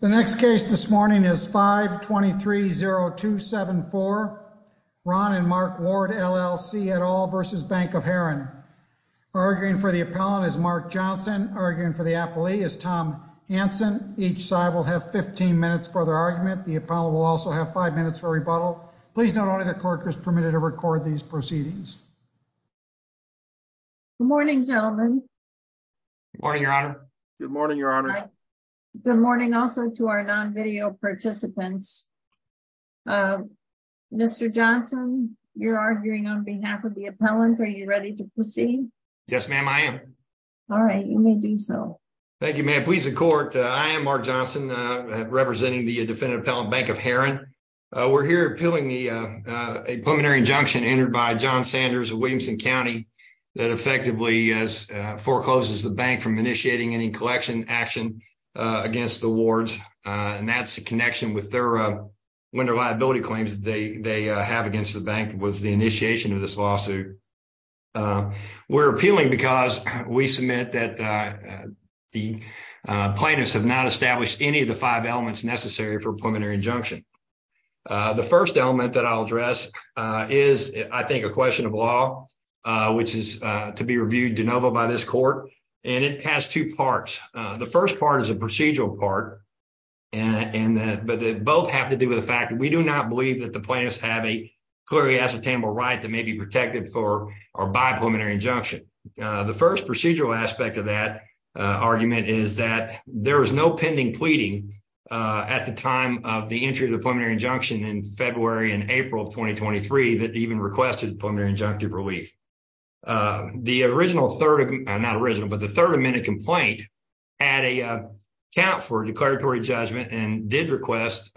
The next case this morning is 5-23-0274, Ron & Mark Ward, LLC, et al. v. Bank of Herrin. Arguing for the appellant is Mark Johnson. Arguing for the appellee is Tom Hanson. Each side will have 15 minutes for their argument. The appellant will also have five minutes for rebuttal. Please note only that clerk is permitted to record these proceedings. Good morning, gentlemen. Good morning, Your Honor. Good morning, Your Honor. Good morning also to our non-video participants. Mr. Johnson, you're arguing on behalf of the appellant. Are you ready to proceed? Yes, ma'am. I am. All right, you may do so. Thank you, ma'am. Please, the court. I am Mark Johnson representing the Defendant Appellant Bank of Herrin. We're here appealing a preliminary injunction entered by John Sanders of Williamson County that effectively forecloses the bank from initiating any collection action against the wards. And that's the connection with their winter liability claims that they have against the bank was the initiation of this lawsuit. We're appealing because we submit that the plaintiffs have not established any of the five elements necessary for preliminary injunction. The first element that I'll address is, I think, a question of law, which is to be reviewed de novo by this court. And it has two parts. The first part is a procedural part, but they both have to do with the fact that we do not believe that the plaintiffs have a clearly ascertainable right that may be protected for or by preliminary injunction. The first procedural aspect of that argument is that there is no pending pleading at the time of the entry of the preliminary injunction in February and April of 2023 that even requested preliminary injunctive relief. The original 3rd, not original, but the 3rd amendment complaint. Add a count for declaratory judgment and did request.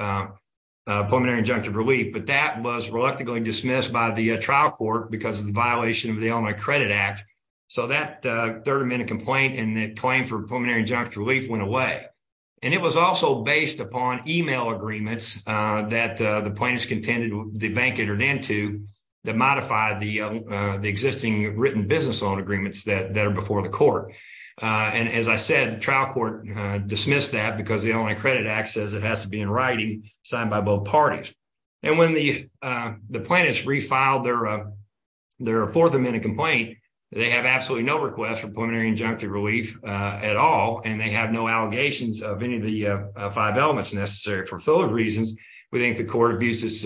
A preliminary injunctive relief, but that was reluctantly dismissed by the trial court because of the violation of the on my credit act. So, that 3rd amendment complaint and the claim for preliminary injunctive relief went away. And it was also based upon email agreements that the plaintiffs contended the bank entered into that modified the existing written business on agreements that that are before the court. And as I said, the trial court dismissed that, because the only credit access, it has to be in writing signed by both parties. And when the, the planets refiled, there, there are 4th amendment complaint, they have absolutely no request for preliminary injunctive relief at all. And they have no allegations of any of the 5 elements necessary for 3rd reasons. We think the court abuses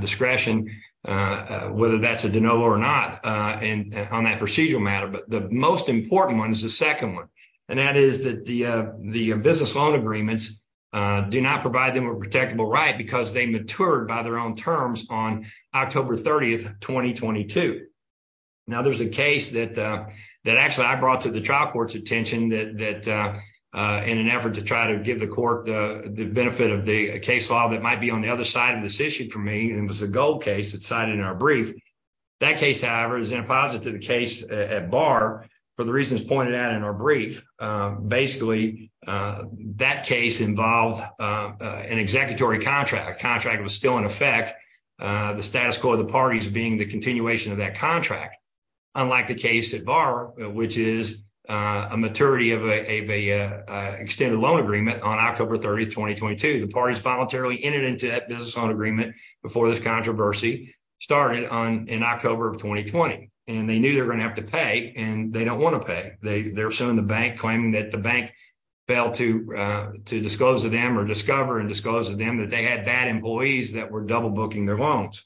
discretion, whether that's a or not and on that procedural matter, but the most important 1 is the 2nd 1 and that is that the, the business on agreements do not provide them a protectable, right? Because they matured by their own terms on October 30th, 2022 now, there's a case that that actually, I brought to the trial court's attention that in an effort to try to give the court the benefit of the case law. That might be on the other side of this issue for me, and it was a gold case that cited in our brief that case. However, is in a positive case at bar for the reasons pointed out in our brief. Basically, that case involved an executory contract contract was still in effect. The status quo of the parties being the continuation of that contract. Unlike the case at bar, which is a maturity of a extended loan agreement on October 30th, 2022, the parties voluntarily entered into that business on agreement before this controversy started on in October of 2020. And they knew they're going to have to pay and they don't want to pay. They're showing the bank claiming that the bank. Failed to disclose to them or discover and disclose to them that they had bad employees that were double booking their loans.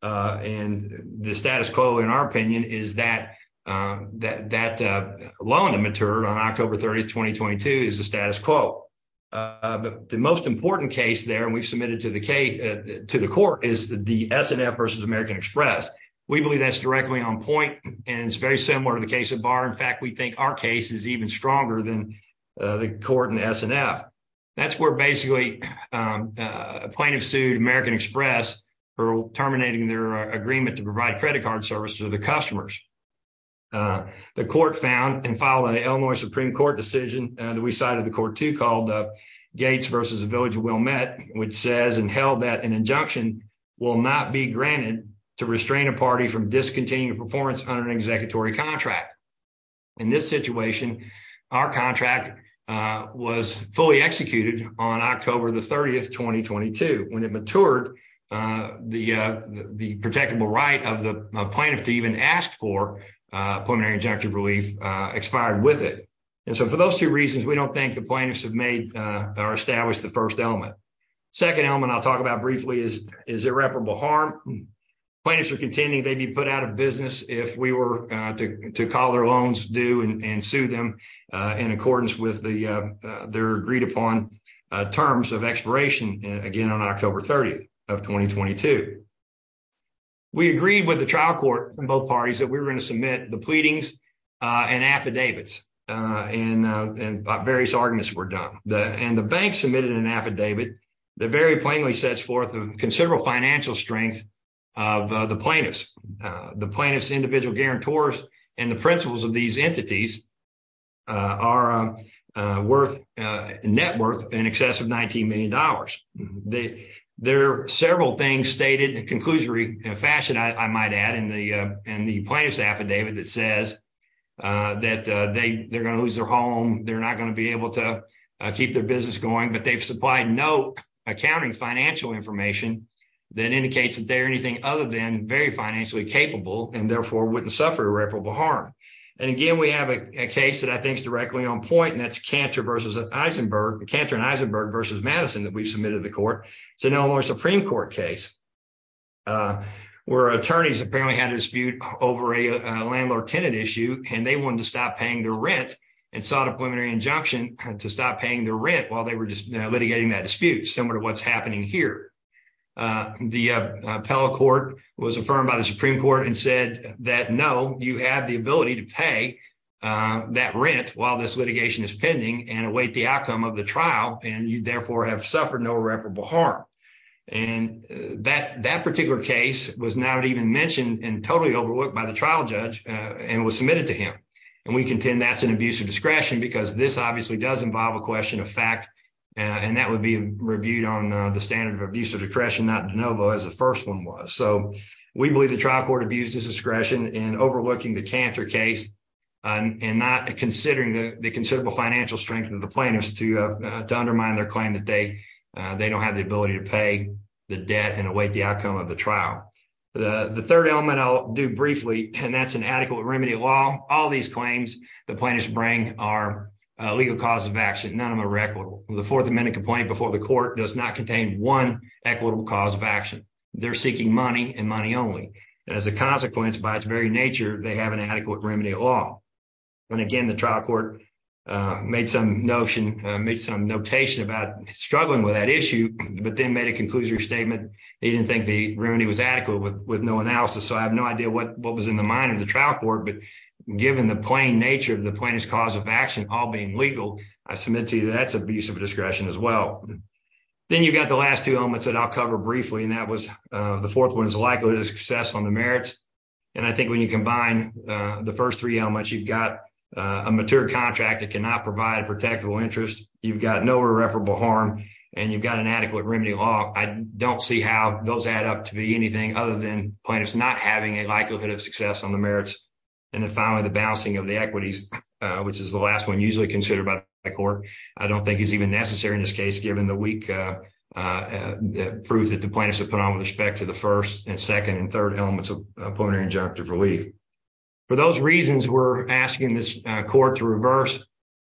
And the status quo, in our opinion, is that that loan to mature on October 30th, 2022 is the status quo. The most important case there, and we've submitted to the case to the court is the versus American Express. We believe that's directly on point and it's very similar to the case of bar. In fact, we think our case is even stronger than. Uh, the court and that's where basically a plaintiff sued American Express for terminating their agreement to provide credit card service to the customers. The court found and follow the Illinois Supreme Court decision that we cited the court to called the gates versus a village of well met, which says and held that an injunction will not be granted to restrain a party from discontinued performance under an executory contract. In this situation, our contract was fully executed on October the 30th, 2022, when it matured, uh, the, uh, the protectable right of the plaintiff to even ask for. Uh, pulmonary injunctive relief expired with it and so for those 2 reasons, we don't think the plaintiffs have made or establish the 1st element. 2nd element I'll talk about briefly is is irreparable harm. Plaintiffs are contending they'd be put out of business if we were to call their loans due and sue them in accordance with the, uh, they're agreed upon terms of expiration again on October 30th of 2022. We agreed with the trial court from both parties that we were going to submit the pleadings and affidavits and various arguments were done and the bank submitted an affidavit. The very plainly sets forth of considerable financial strength of the plaintiffs, the plaintiffs, individual guarantors and the principles of these entities. Are worth net worth in excess of 19Million dollars. They, there are several things stated conclusory fashion. I might add in the plaintiff's affidavit that says that they're going to lose their home. They're not going to be able to keep their business going, but they've supplied no accounting financial information that indicates that they're anything other than very financially capable and therefore wouldn't suffer irreparable harm. And again, we have a case that I think is directly on point and that's canter versus Eisenberg canter and Eisenberg versus Madison that we've submitted the court. So, no more Supreme Court case where attorneys apparently had a dispute over a landlord tenant issue, and they wanted to stop paying the rent and sought a preliminary injunction to stop paying the rent while they were just litigating that dispute. Similar to what's happening here. The appellate court was affirmed by the Supreme Court and said that no, you have the ability to pay that rent while this litigation is pending and await the outcome of the trial. And you therefore have suffered no reputable harm and that that particular case was not even mentioned and totally overworked by the trial judge and was submitted to him. And we contend that's an abuse of discretion, because this obviously does involve a question of fact, and that would be reviewed on the standard of abuse of discretion. Not as the 1st, 1 was. So, we believe the trial court abuses discretion and overlooking the canter case and not considering the considerable financial strength of the plaintiffs to undermine their claim that they, they don't have the ability to pay the debt and await the outcome of the trial. The 3rd element I'll do briefly, and that's an adequate remedy law. All these claims the plaintiffs bring are legal cause of action. None of them are equitable. The 4th amendment complaint before the court does not contain 1 equitable cause of action. They're seeking money and money only as a consequence by its very nature. They have an adequate remedy law. And again, the trial court made some notion, made some notation about struggling with that issue, but then made a conclusion statement. He didn't think the remedy was adequate with with no analysis. So, I have no idea what was in the mind of the trial court, but given the plain nature of the plaintiff's cause of action, all being legal, I submit to you that's abuse of discretion as well. Then you've got the last 2 elements that I'll cover briefly, and that was the 4th one is the likelihood of success on the merits. And I think when you combine the 1st, 3 elements, you've got a mature contract that cannot provide a protectable interest. You've got no irreparable harm, and you've got an adequate remedy law. I don't see how those add up to be anything other than plaintiffs not having a likelihood of success on the merits. And then finally, the balancing of the equities, which is the last 1 usually considered by the court. I don't think it's even necessary in this case, given the weak proof that the plaintiffs have put on with respect to the 1st and 2nd and 3rd elements of preliminary injunctive relief. For those reasons, we're asking this court to reverse.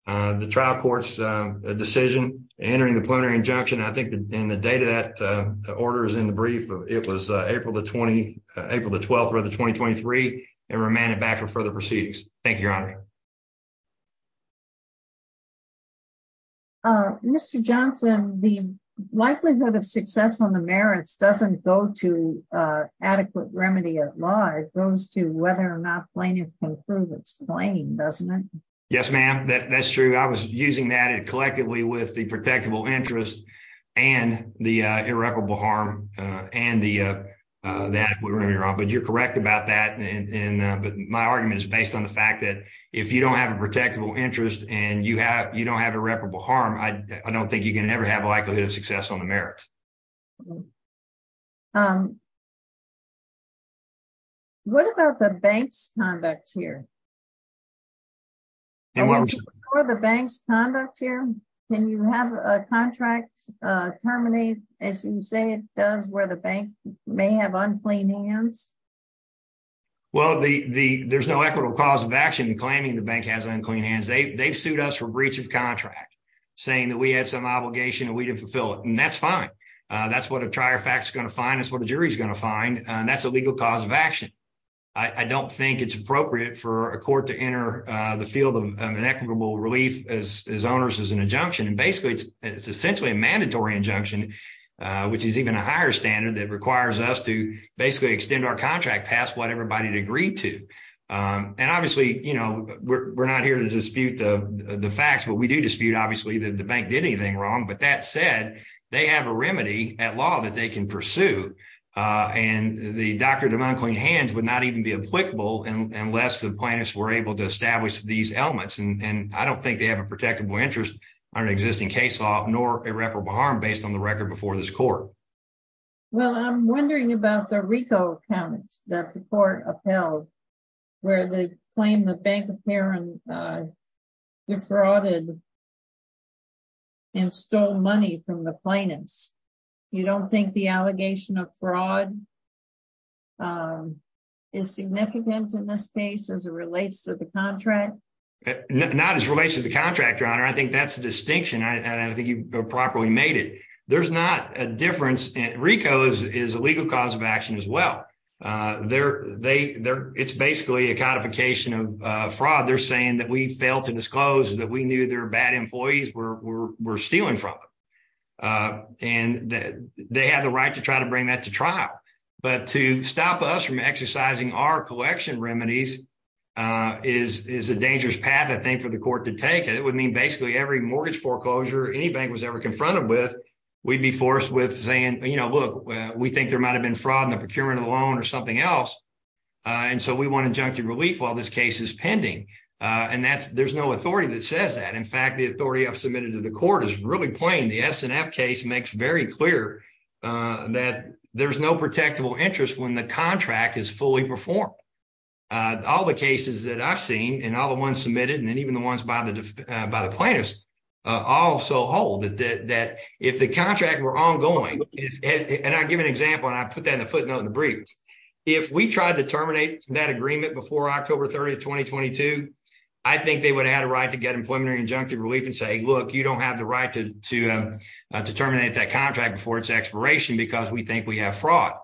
The trial court's decision entering the plenary injunction, I think, in the data that order is in the brief, it was April, the 20 April, the 12th or the 2023 and remanded back for further proceedings. Thank you, your honor. Mr. Johnson, the likelihood of success on the merits doesn't go to adequate remedy at large. It goes to whether or not plaintiff can prove its claim. Doesn't it? Yes, ma'am. That's true. I was using that collectively with the protectable interest and the irreparable harm and the adequate remedy law. But you're correct about that. But my argument is based on the fact that if you don't have a protectable interest and you don't have irreparable harm, I don't think you can ever have a likelihood of success on the merits. What about the bank's conduct here? Can you have a contract terminated, as you say it does, where the bank may have unclean hands? Well, there's no equitable cause of action in claiming the bank has unclean hands. They've sued us for breach of contract, saying that we had some obligation and we didn't fulfill it. And that's fine. That's what a trier fact is going to find. That's what a jury is going to find. That's a legal cause of action. I don't think it's appropriate for a court to enter the field of an equitable relief as owners as an injunction. And basically, it's essentially a mandatory injunction, which is even a higher standard that requires us to basically extend our contract past what everybody agreed to. And obviously, you know, we're not here to dispute the facts, but we do dispute, obviously, that the bank did anything wrong. But that said, they have a remedy at law that they can pursue. And the doctrine of unclean hands would not even be applicable unless the plaintiffs were able to establish these elements. And I don't think they have a protectable interest on an existing case law nor irreparable harm based on the record before this court. Well, I'm wondering about the RICO count that the court upheld, where they claim the bank apparently defrauded and stole money from the plaintiffs. You don't think the allegation of fraud is significant in this case as it relates to the contract? Not as it relates to the contract, Your Honor. I think that's the distinction. I don't think you properly made it. There's not a difference. RICO is a legal cause of action as well. It's basically a codification of fraud. They're saying that we failed to disclose that we knew their bad employees were stealing from them. And they have the right to try to bring that to trial. But to stop us from exercising our collection remedies is a dangerous path, I think, for the court to take. It would mean basically every mortgage foreclosure any bank was ever confronted with, we'd be forced with saying, you know, look, we think there might have been fraud in the procurement of the loan or something else. And so we want injunctive relief while this case is pending. And there's no authority that says that. In fact, the authority I've submitted to the court is really plain. The S&F case makes very clear that there's no protectable interest when the contract is fully performed. All the cases that I've seen, and all the ones submitted, and then even the ones by the plaintiffs also hold that if the contract were ongoing, and I'll give an example, and I put that in the footnote in the briefs, if we tried to terminate that agreement before October 30, 2022, I think they would have had a right to get employment or injunctive relief and say, look, you don't have the right to terminate that contract before it's expiration because we think we have fraud.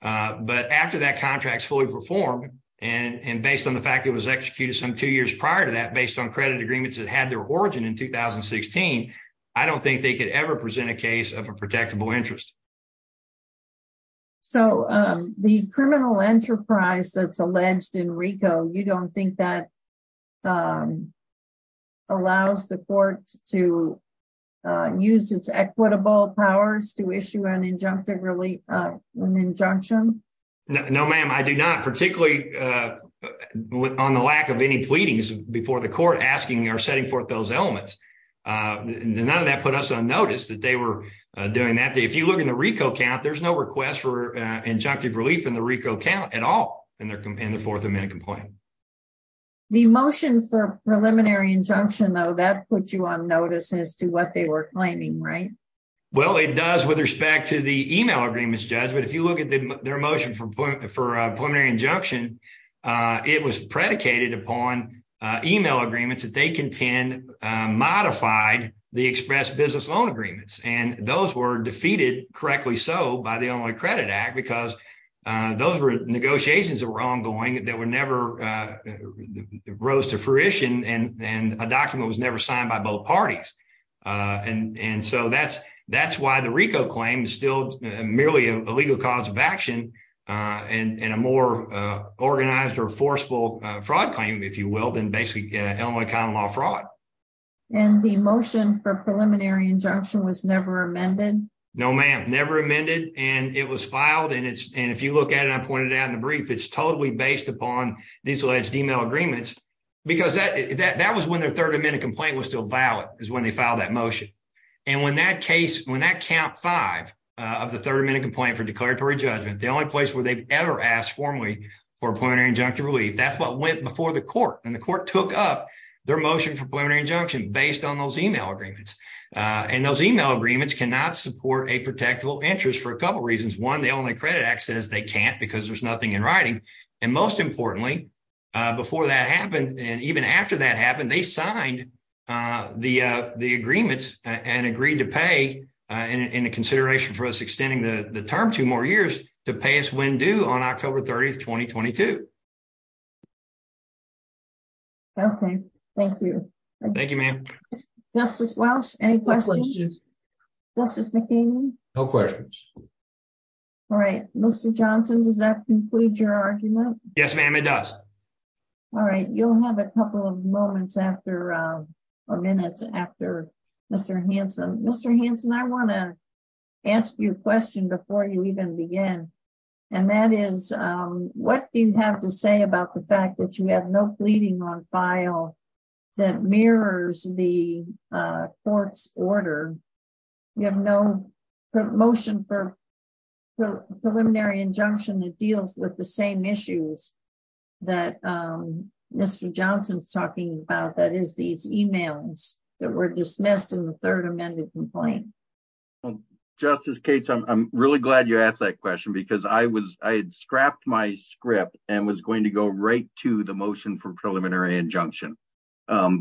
But after that contract is fully performed, and based on the fact it was executed some two years prior to that, based on credit agreements that had their origin in 2016, I don't think they could ever present a case of a protectable interest. So the criminal enterprise that's alleged in RICO, you don't think that allows the court to use its equitable powers to issue an injunctive relief, an injunction? No, ma'am, I do not, particularly on the lack of any pleadings before the court asking or setting forth those elements. None of that put us on notice that they were doing that. If you look in the RICO count, there's no request for injunctive relief in the RICO count at all in the Fourth Amendment complaint. The motion for preliminary injunction, though, that puts you on notice as to what they were claiming, right? Well, it does with respect to the email agreements, Judge, but if you look at their motion for preliminary injunction, it was predicated upon email agreements that they contend modified the express business loan agreements. And those were defeated, correctly so, by the Illinois Credit Act because those were negotiations that were ongoing that never rose to fruition and a document was never signed by both parties. And so that's why the RICO claim is still merely a legal cause of action and a more organized or forceful fraud claim, if you will, than basically Illinois common law fraud. And the motion for preliminary injunction was never amended? No, ma'am, never amended, and it was filed, and if you look at it, I pointed out in the brief, it's totally based upon these alleged email agreements because that was when their Third Amendment complaint was still valid, is when they filed that motion. And when that case, when that count five of the Third Amendment complaint for declaratory judgment, the only place where they've ever asked formally for preliminary injunctive relief, that's what went before the court. And the court took up their motion for preliminary injunction based on those email agreements. And those email agreements cannot support a protectable interest for a couple reasons. One, the Illinois Credit Act says they can't because there's nothing in writing. And most importantly, before that happened, and even after that happened, they signed the agreements and agreed to pay in consideration for us extending the term two more years to pay us when due on October 30, 2022. Okay, thank you. Thank you, ma'am. Justice Welch, any questions? Justice McCain? No questions. All right, Mr. Johnson, does that conclude your argument? Yes, ma'am, it does. All right, you'll have a couple of moments after, or minutes after, Mr. Hanson. Mr. Hanson, I want to ask you a question before you even begin. And that is, what do you have to say about the fact that you have no pleading on file that mirrors the court's order? You have no motion for preliminary injunction that deals with the same issues that Mr. Johnson's talking about, that is, these emails that were dismissed in the third amended complaint. Justice Cates, I'm really glad you asked that question because I had scrapped my script and was going to go right to the motion for preliminary injunction.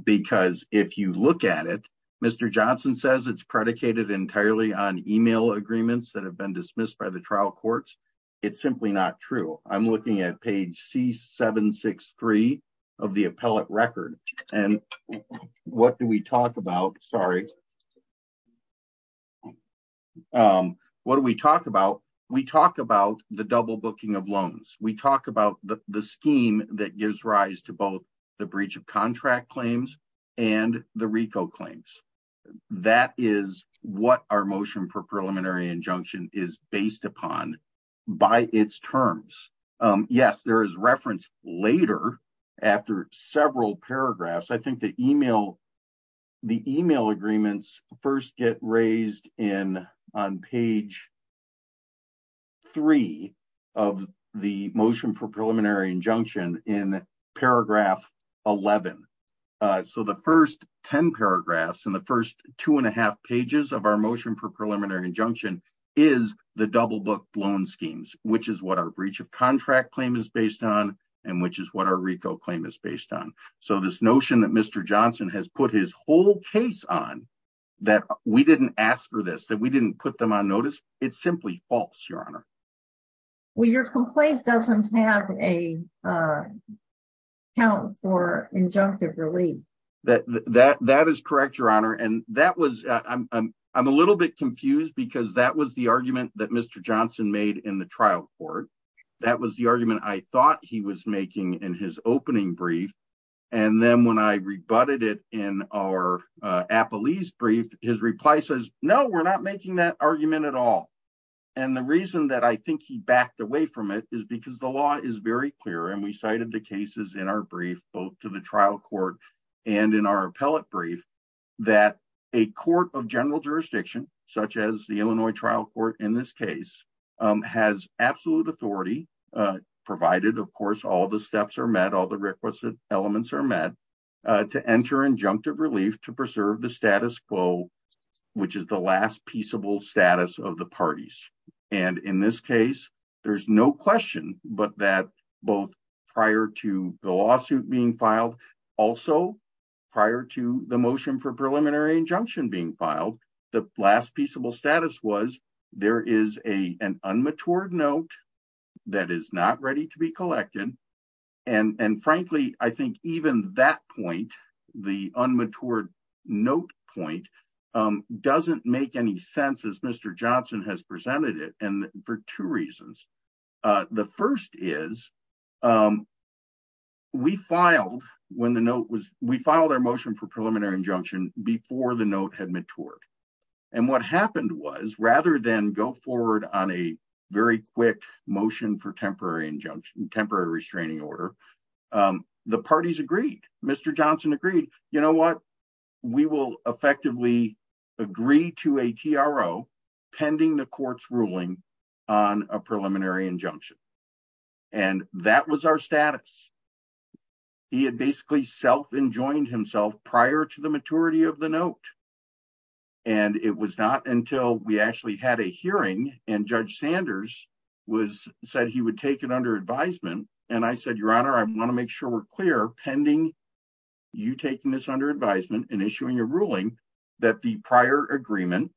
Because if you look at it, Mr. Johnson says it's predicated entirely on email agreements that have been dismissed by the trial courts. It's simply not true. I'm looking at page C763 of the appellate record. And what do we talk about? Sorry. What do we talk about? We talk about the double booking of loans. We talk about the scheme that gives rise to both the breach of contract claims and the RICO claims. That is what our motion for preliminary injunction is based upon by its terms. Yes, there is reference later after several paragraphs. I think the email agreements first get raised on page 3 of the motion for preliminary injunction in paragraph 11. So the first 10 paragraphs and the first two and a half pages of our motion for preliminary injunction is the double book loan schemes, which is what our breach of contract claim is based on and which is what our RICO claim is based on. So this notion that Mr. Johnson has put his whole case on, that we didn't ask for this, that we didn't put them on notice, it's simply false, Your Honor. Well, your complaint doesn't have a count for injunctive relief. That is correct, Your Honor. And that was, I'm a little bit confused because that was the argument that Mr. Johnson made in the trial court. That was the argument I thought he was making in his opening brief. And then when I rebutted it in our appellee's brief, his reply says, no, we're not making that argument at all. And the reason that I think he backed away from it is because the law is very clear and we cited the cases in our brief, both to the trial court and in our appellate brief, that a court of general jurisdiction, such as the Illinois trial court in this case, has absolute authority, provided of course all the steps are met, all the requisite elements are met, to enter injunctive relief to preserve the status quo, which is the last peaceable status of the parties. And in this case, there's no question but that both prior to the lawsuit being filed, also prior to the motion for preliminary injunction being filed, the last peaceable status was there is an unmatured note that is not ready to be collected. And frankly, I think even that point, the unmatured note point, doesn't make any sense as Mr. Johnson has presented it, and for two reasons. The first is, we filed our motion for preliminary injunction before the note had matured. And what happened was, rather than go forward on a very quick motion for temporary injunction, temporary restraining order, the parties agreed, Mr. Johnson agreed, you know what, we will effectively agree to a TRO pending the court's ruling on a preliminary injunction. And that was our status. He had basically self enjoined himself prior to the maturity of the note. And it was not until we actually had a hearing and Judge Sanders said he would take it under advisement, and I said, Your Honor, I want to make sure we're clear, pending you taking this under advisement and issuing a ruling, that the prior agreement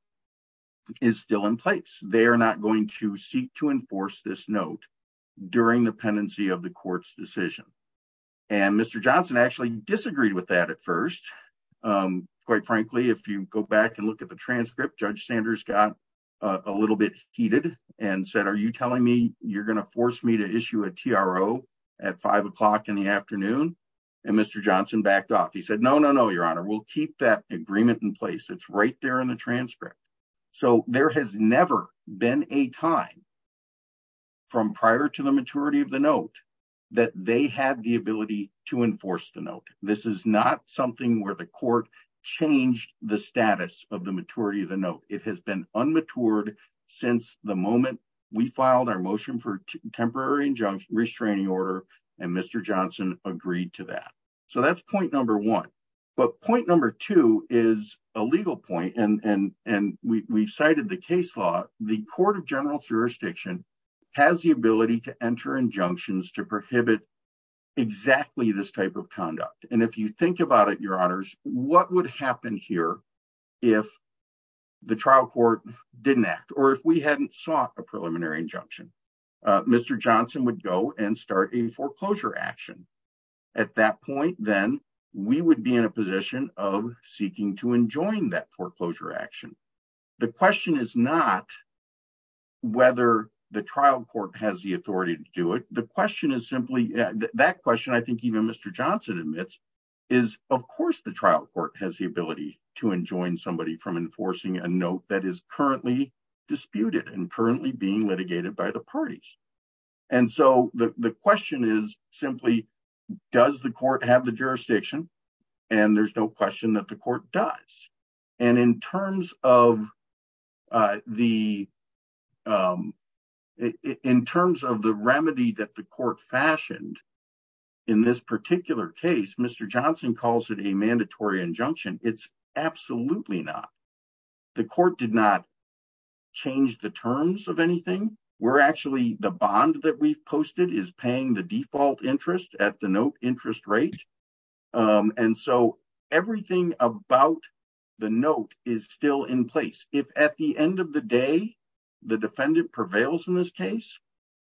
is still in place. They are not going to seek to enforce this note during the pendency of the court's decision. And Mr. Johnson actually disagreed with that at first. Quite frankly, if you go back and look at the transcript, Judge Sanders got a little bit heated and said, are you telling me you're going to force me to issue a TRO at five o'clock in the afternoon? And Mr. Johnson backed off. He said, no, no, no, Your Honor, we'll keep that agreement in place. It's right there in the transcript. So there has never been a time from prior to the maturity of the note that they had the ability to enforce the note. This is not something where the court changed the status of the maturity of the note. It has been unmatured since the moment we filed our motion for temporary injunction restraining order, and Mr. Johnson agreed to that. So that's point number one. But point number two is a legal point, and we've cited the case law. The court of general jurisdiction has the ability to enter injunctions to prohibit exactly this type of conduct. And if you think about it, Your Honors, what would happen here if the trial court didn't act, or if we hadn't sought a preliminary injunction? Mr. Johnson would go and start a foreclosure action. At that point, then, we would be in a position of seeking to enjoin that foreclosure action. The question is not whether the trial court has the authority to do it. The question is simply, that question I think even Mr. Johnson admits, is of course the trial court has the ability to enjoin somebody from enforcing a note that is currently disputed and currently being litigated by the parties. And so the question is simply, does the court have the jurisdiction? And there's no question that the court does. And in terms of the remedy that the court fashioned in this particular case, Mr. Johnson calls it a mandatory injunction. It's absolutely not. The court did not change the terms of anything. We're actually, the bond that we've posted is paying the default interest at the note interest rate. And so everything about the note is still in place. If at the end of the day, the defendant prevails in this case,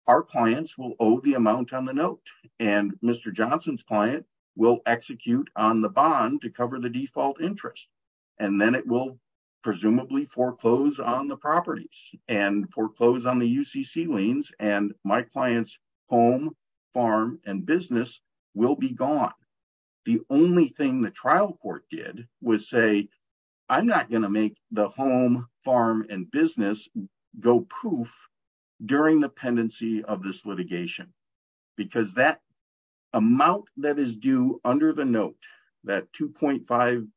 our clients will owe the amount on the note. And Mr. Johnson's client will execute on the bond to cover the default interest. And then it will presumably foreclose on the properties and foreclose on the UCC liens. And my client's home, farm, and business will be gone. The only thing the trial court did was say, I'm not going to make the home, farm, and business go proof during the pendency of this litigation. Because that amount that is due under the note, that $2.5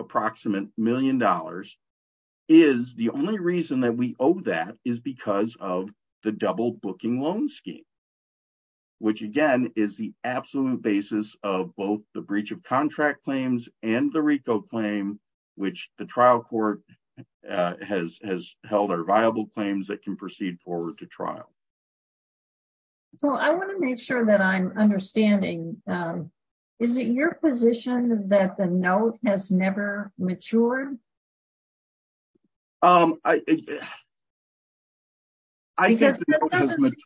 approximate million dollars, is the only reason that we owe that is because of the double booking loan scheme. Which again is the absolute basis of both the breach of contract claims and the RICO claim, which the trial court has held are viable claims that can proceed forward to trial. So I want to make sure that I'm understanding. Is it your position that the note has never matured? I think the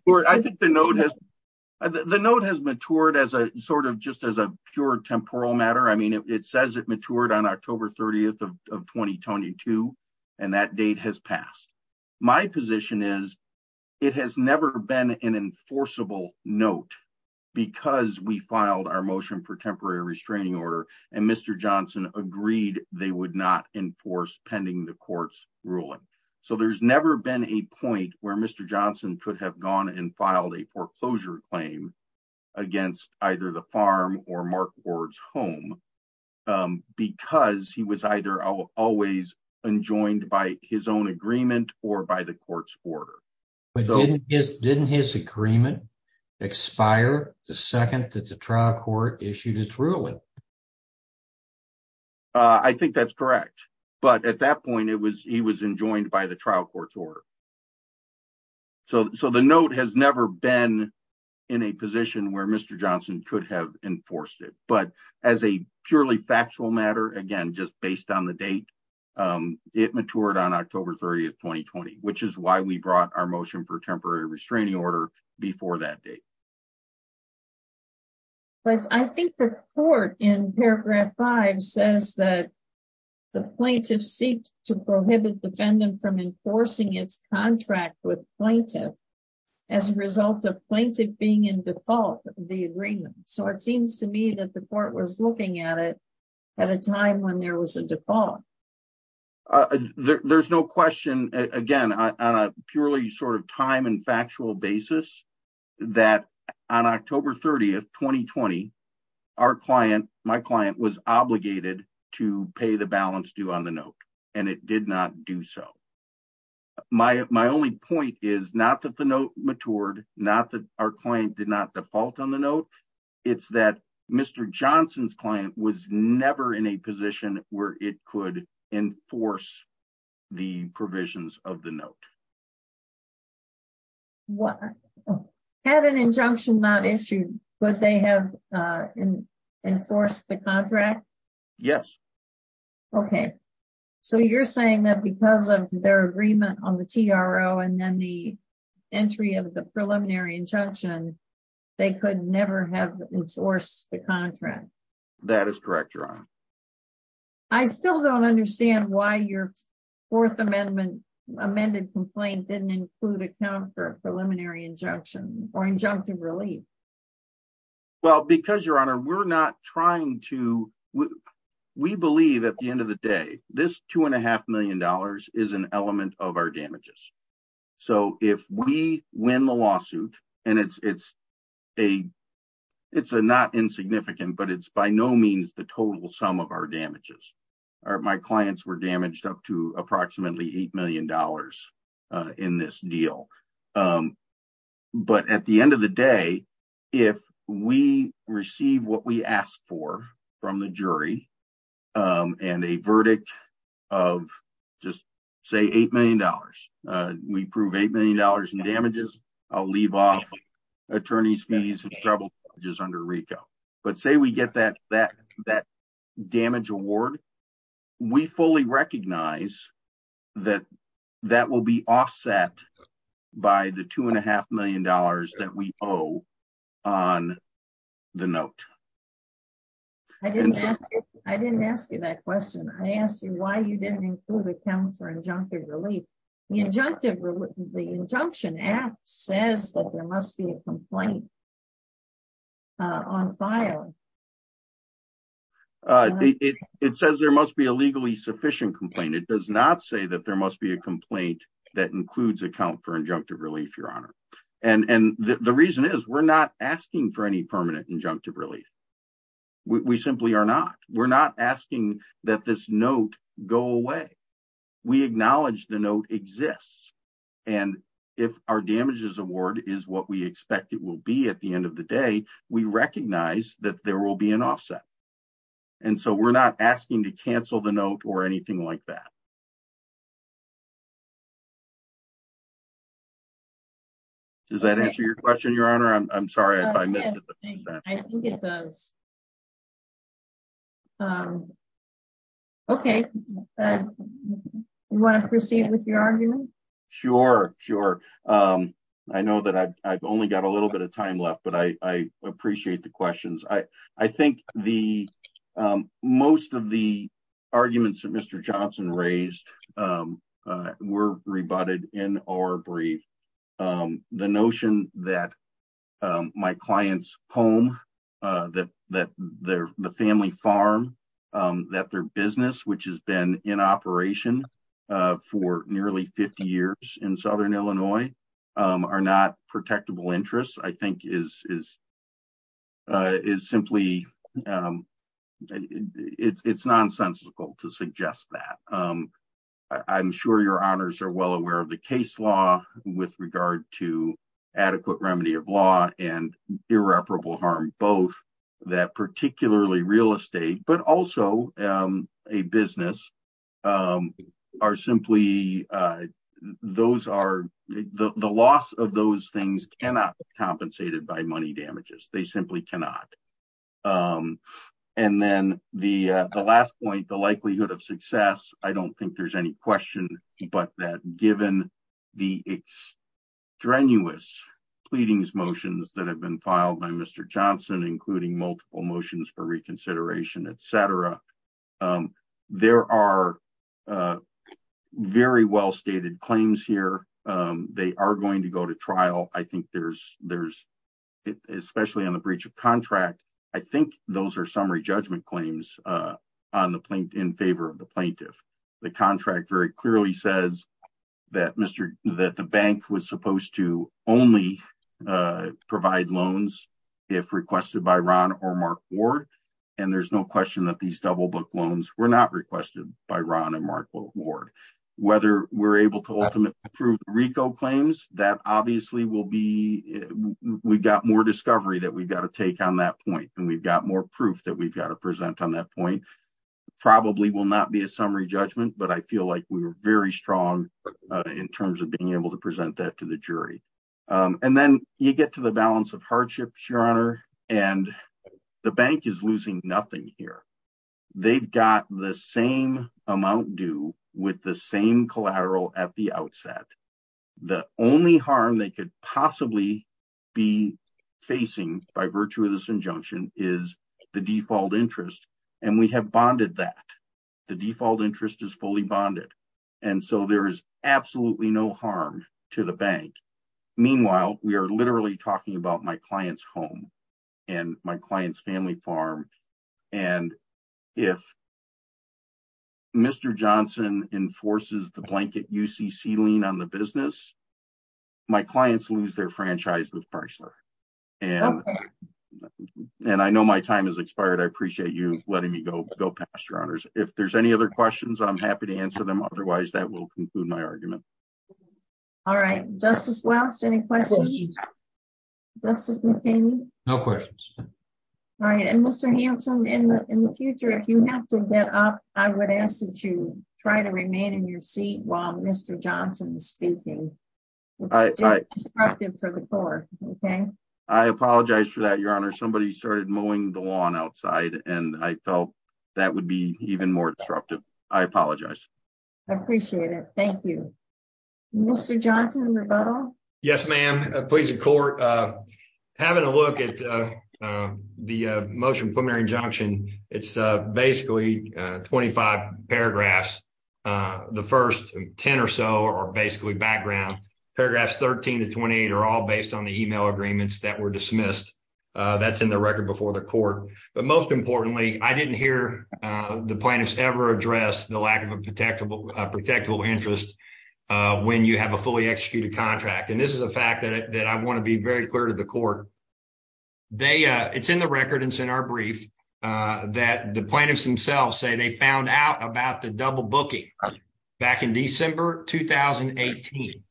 note has matured as a sort of just as a pure temporal matter. I mean, it says it matured on October 30th of 2022. And that date has passed. My position is it has never been an enforceable note because we filed our motion for temporary restraining order. And Mr. Johnson agreed they would not enforce pending the court's ruling. So there's never been a point where Mr. Johnson could have gone and filed a foreclosure claim against either the farm or Mark Ward's home. Because he was either always enjoined by his own agreement or by the court's order. Didn't his agreement expire the second that the trial court issued its ruling? I think that's correct. But at that point, it was he was enjoined by the trial court's order. So the note has never been in a position where Mr. Johnson could have enforced it. But as a purely factual matter, again, just based on the date, it matured on October 30th, 2020, which is why we brought our motion for temporary restraining order before that date. But I think the court in paragraph five says that the plaintiff seek to prohibit defendant from enforcing its contract with plaintiff. As a result of plaintiff being in default, the agreement. So it seems to me that the court was looking at it at a time when there was a default. There's no question, again, purely sort of time and factual basis that on October 30th, 2020, our client, my client was obligated to pay the balance due on the note, and it did not do so. My my only point is not that the note matured, not that our client did not default on the note. It's that Mr. Johnson's client was never in a position where it could enforce the provisions of the note. What had an injunction not issued, but they have enforced the contract? Yes. Okay. So you're saying that because of their agreement on the TRO and then the entry of the preliminary injunction, they could never have sourced the contract. That is correct. I still don't understand why your Fourth Amendment amended complaint didn't include a counter preliminary injunction or injunctive relief. Well, because, Your Honor, we're not trying to we believe at the end of the day, this two and a half million dollars is an element of our damages. So if we win the lawsuit and it's it's a it's a not insignificant, but it's by no means the total sum of our damages are my clients were damaged up to approximately eight million dollars in this deal. But at the end of the day, if we receive what we asked for from the jury and a verdict of just say eight million dollars, we prove eight million dollars in damages. I'll leave off attorney's fees and trouble just under Rico. But say we get that that that damage award, we fully recognize that that will be offset by the two and a half million dollars that we owe on the note. I didn't ask. I didn't ask you that question. I asked you why you didn't include a counter injunctive relief injunctive. The injunction act says that there must be a complaint on file. It says there must be a legally sufficient complaint. It does not say that there must be a complaint that includes account for injunctive relief, Your Honor. And the reason is we're not asking for any permanent injunctive relief. We simply are not. We're not asking that this note go away. We acknowledge the note exists. And if our damages award is what we expect it will be at the end of the day, we recognize that there will be an offset. And so we're not asking to cancel the note or anything like that. Does that answer your question, Your Honor? I'm sorry if I missed it. I think it does. Okay. You want to proceed with your argument? Sure. Sure. I know that I've only got a little bit of time left, but I appreciate the questions. I think most of the arguments that Mr. Johnson raised were rebutted in our brief. The notion that my client's home, that the family farm, that their business, which has been in operation for nearly 50 years in Southern Illinois, are not protectable interests, I think is simply, it's nonsensical to suggest that. I'm sure Your Honors are well aware of the case law with regard to adequate remedy of law and irreparable harm. Both that particularly real estate, but also a business, are simply, those are, the loss of those things cannot be compensated by money damages. They simply cannot. And then the last point, the likelihood of success, I don't think there's any question, but that given the extraneous pleadings motions that have been filed by Mr. Johnson, including multiple motions for reconsideration, et cetera, there are very well stated claims here. Overall, I think there's, especially on the breach of contract, I think those are summary judgment claims in favor of the plaintiff. The contract very clearly says that the bank was supposed to only provide loans if requested by Ron or Mark Ward, and there's no question that these double book loans were not requested by Ron and Mark Ward. Whether we're able to ultimately approve RICO claims, that obviously will be, we've got more discovery that we've got to take on that point, and we've got more proof that we've got to present on that point. Probably will not be a summary judgment, but I feel like we were very strong in terms of being able to present that to the jury. And then you get to the balance of hardships, Your Honor, and the bank is losing nothing here. They've got the same amount due with the same collateral at the outset. The only harm they could possibly be facing by virtue of this injunction is the default interest, and we have bonded that. The default interest is fully bonded, and so there is absolutely no harm to the bank. Meanwhile, we are literally talking about my client's home and my client's family farm, and if Mr. Johnson enforces the blanket UCC lien on the business, my clients lose their franchise with Chrysler. And I know my time has expired. I appreciate you letting me go go past your honors. If there's any other questions, I'm happy to answer them. Otherwise, that will conclude my argument. All right. Justice Welch, any questions? Justice McCain? No questions. All right. And Mr. Hanson, in the future, if you have to get up, I would ask that you try to remain in your seat while Mr. Johnson is speaking. I apologize for that, Your Honor. Somebody started mowing the lawn outside, and I felt that would be even more disruptive. I apologize. I appreciate it. Thank you. Mr. Johnson, rebuttal? Yes, ma'am. Having a look at the motion preliminary injunction, it's basically 25 paragraphs. The first 10 or so are basically background. Paragraphs 13 to 28 are all based on the email agreements that were dismissed. That's in the record before the court. But most importantly, I didn't hear the plaintiffs ever address the lack of a protectable interest when you have a fully executed contract. And this is a fact that I want to be very clear to the court. It's in the record and it's in our brief that the plaintiffs themselves say they found out about the double booking back in December 2018.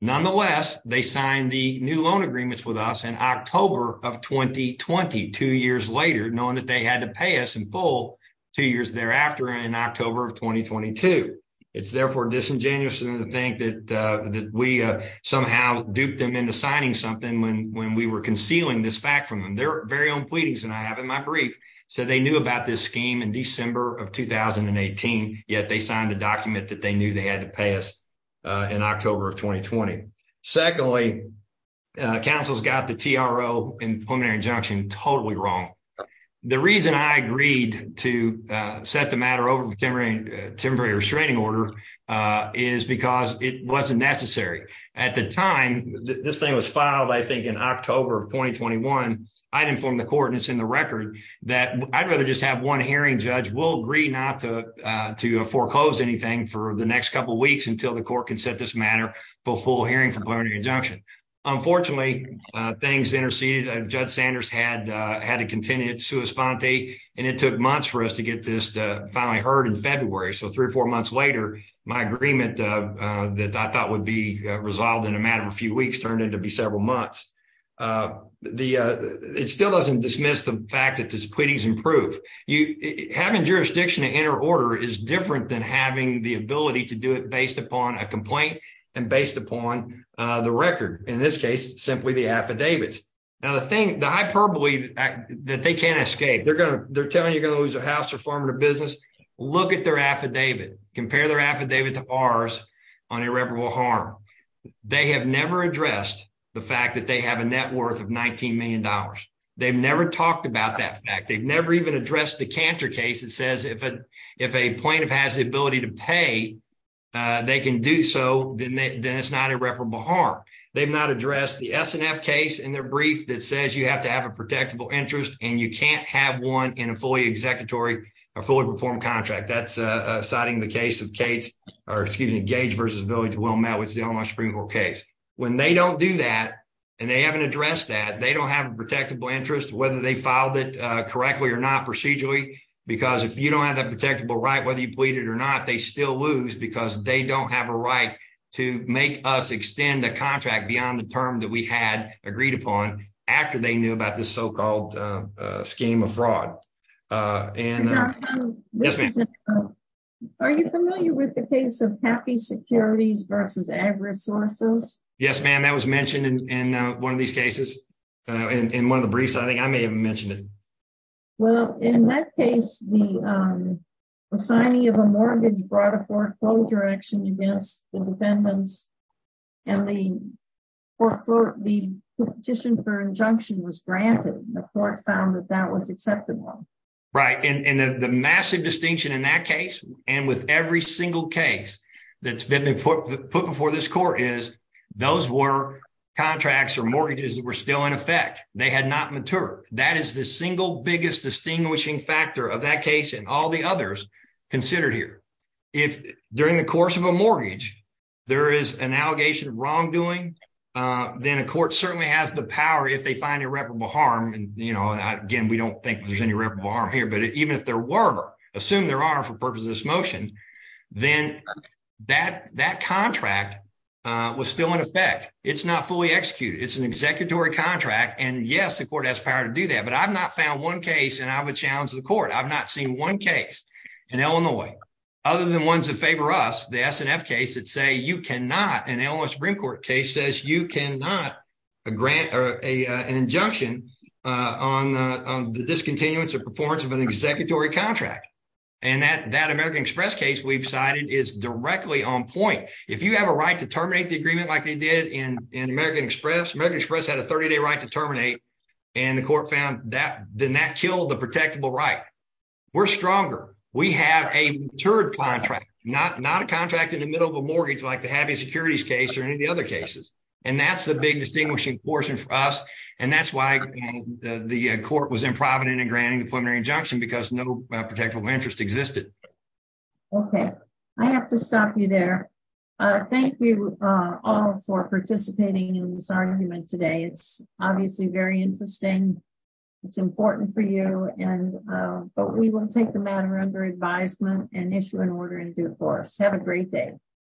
Nonetheless, they signed the new loan agreements with us in October of 2020, two years later, knowing that they had to pay us in full two years thereafter in October of 2022. It's therefore disingenuous to think that we somehow duped them into signing something when we were concealing this fact from them. Their very own pleadings, and I have it in my brief, said they knew about this scheme in December of 2018, yet they signed the document that they knew they had to pay us in October of 2020. Secondly, counsel's got the TRO and preliminary injunction totally wrong. The reason I agreed to set the matter over the temporary restraining order is because it wasn't necessary. At the time, this thing was filed, I think, in October of 2021. I informed the court, and it's in the record, that I'd rather just have one hearing. Judge will agree not to foreclose anything for the next couple of weeks until the court can set this matter before hearing for plenary injunction. Unfortunately, things interceded. Judge Sanders had to continue to respond, and it took months for us to get this finally heard in February. So, three or four months later, my agreement that I thought would be resolved in a matter of a few weeks turned out to be several months. It still doesn't dismiss the fact that these pleadings improve. Having jurisdiction to enter order is different than having the ability to do it based upon a complaint and based upon the record. In this case, simply the affidavits. Now, the hyperbole that they can't escape, they're telling you you're going to lose a house or farm or business. Look at their affidavit. Compare their affidavit to ours on irreparable harm. They have never addressed the fact that they have a net worth of $19 million. They've never talked about that fact. They've never even addressed the Cantor case that says if a plaintiff has the ability to pay, they can do so, then it's not irreparable harm. They've not addressed the S&F case in their brief that says you have to have a protectable interest, and you can't have one in a fully executory or fully reformed contract. That's citing the case of Gates or, excuse me, Gage v. Willmette, which is the Illinois Supreme Court case. When they don't do that and they haven't addressed that, they don't have a protectable interest, whether they filed it correctly or not procedurally, because if you don't have that protectable right, whether you plead it or not, they still lose, because they don't have a right to make us extend a contract beyond the term that we had agreed upon after they knew about this so-called scheme of fraud. Yes, ma'am. Are you familiar with the case of Happy Securities v. Ag Resources? Yes, ma'am. That was mentioned in one of these cases, in one of the briefs. I think I may have mentioned it. Well, in that case, the signing of a mortgage brought a foreclosure action against the defendants, and the petition for injunction was granted. The court found that that was acceptable. Right, and the massive distinction in that case and with every single case that's been put before this court is those were contracts or mortgages that were still in effect. They had not matured. That is the single biggest distinguishing factor of that case and all the others considered here. If, during the course of a mortgage, there is an allegation of wrongdoing, then a court certainly has the power, if they find irreparable harm, and again, we don't think there's any irreparable harm here, but even if there were, assume there are for purposes of this motion, then that contract was still in effect. It's not fully executed. It's an executory contract, and yes, the court has power to do that, but I've not found one case, and I would challenge the court, I've not seen one case in Illinois, other than ones that favor us, the S&F case, that say you cannot, an Illinois Supreme Court case says you cannot grant an injunction on the discontinuance or performance of an executory contract. And that American Express case we've cited is directly on point. If you have a right to terminate the agreement like they did in American Express, American Express had a 30-day right to terminate, and the court found that, then that killed the protectable right. We're stronger. We have a matured contract, not a contract in the middle of a mortgage like the Happy Securities case or any of the other cases, and that's the big distinguishing portion for us, and that's why the court was improvident in granting the preliminary injunction, because no protectable interest existed. Okay. I have to stop you there. Thank you all for participating in this argument today. It's obviously very interesting. It's important for you, but we will take the matter under advisement and issue an order in due course. Have a great day.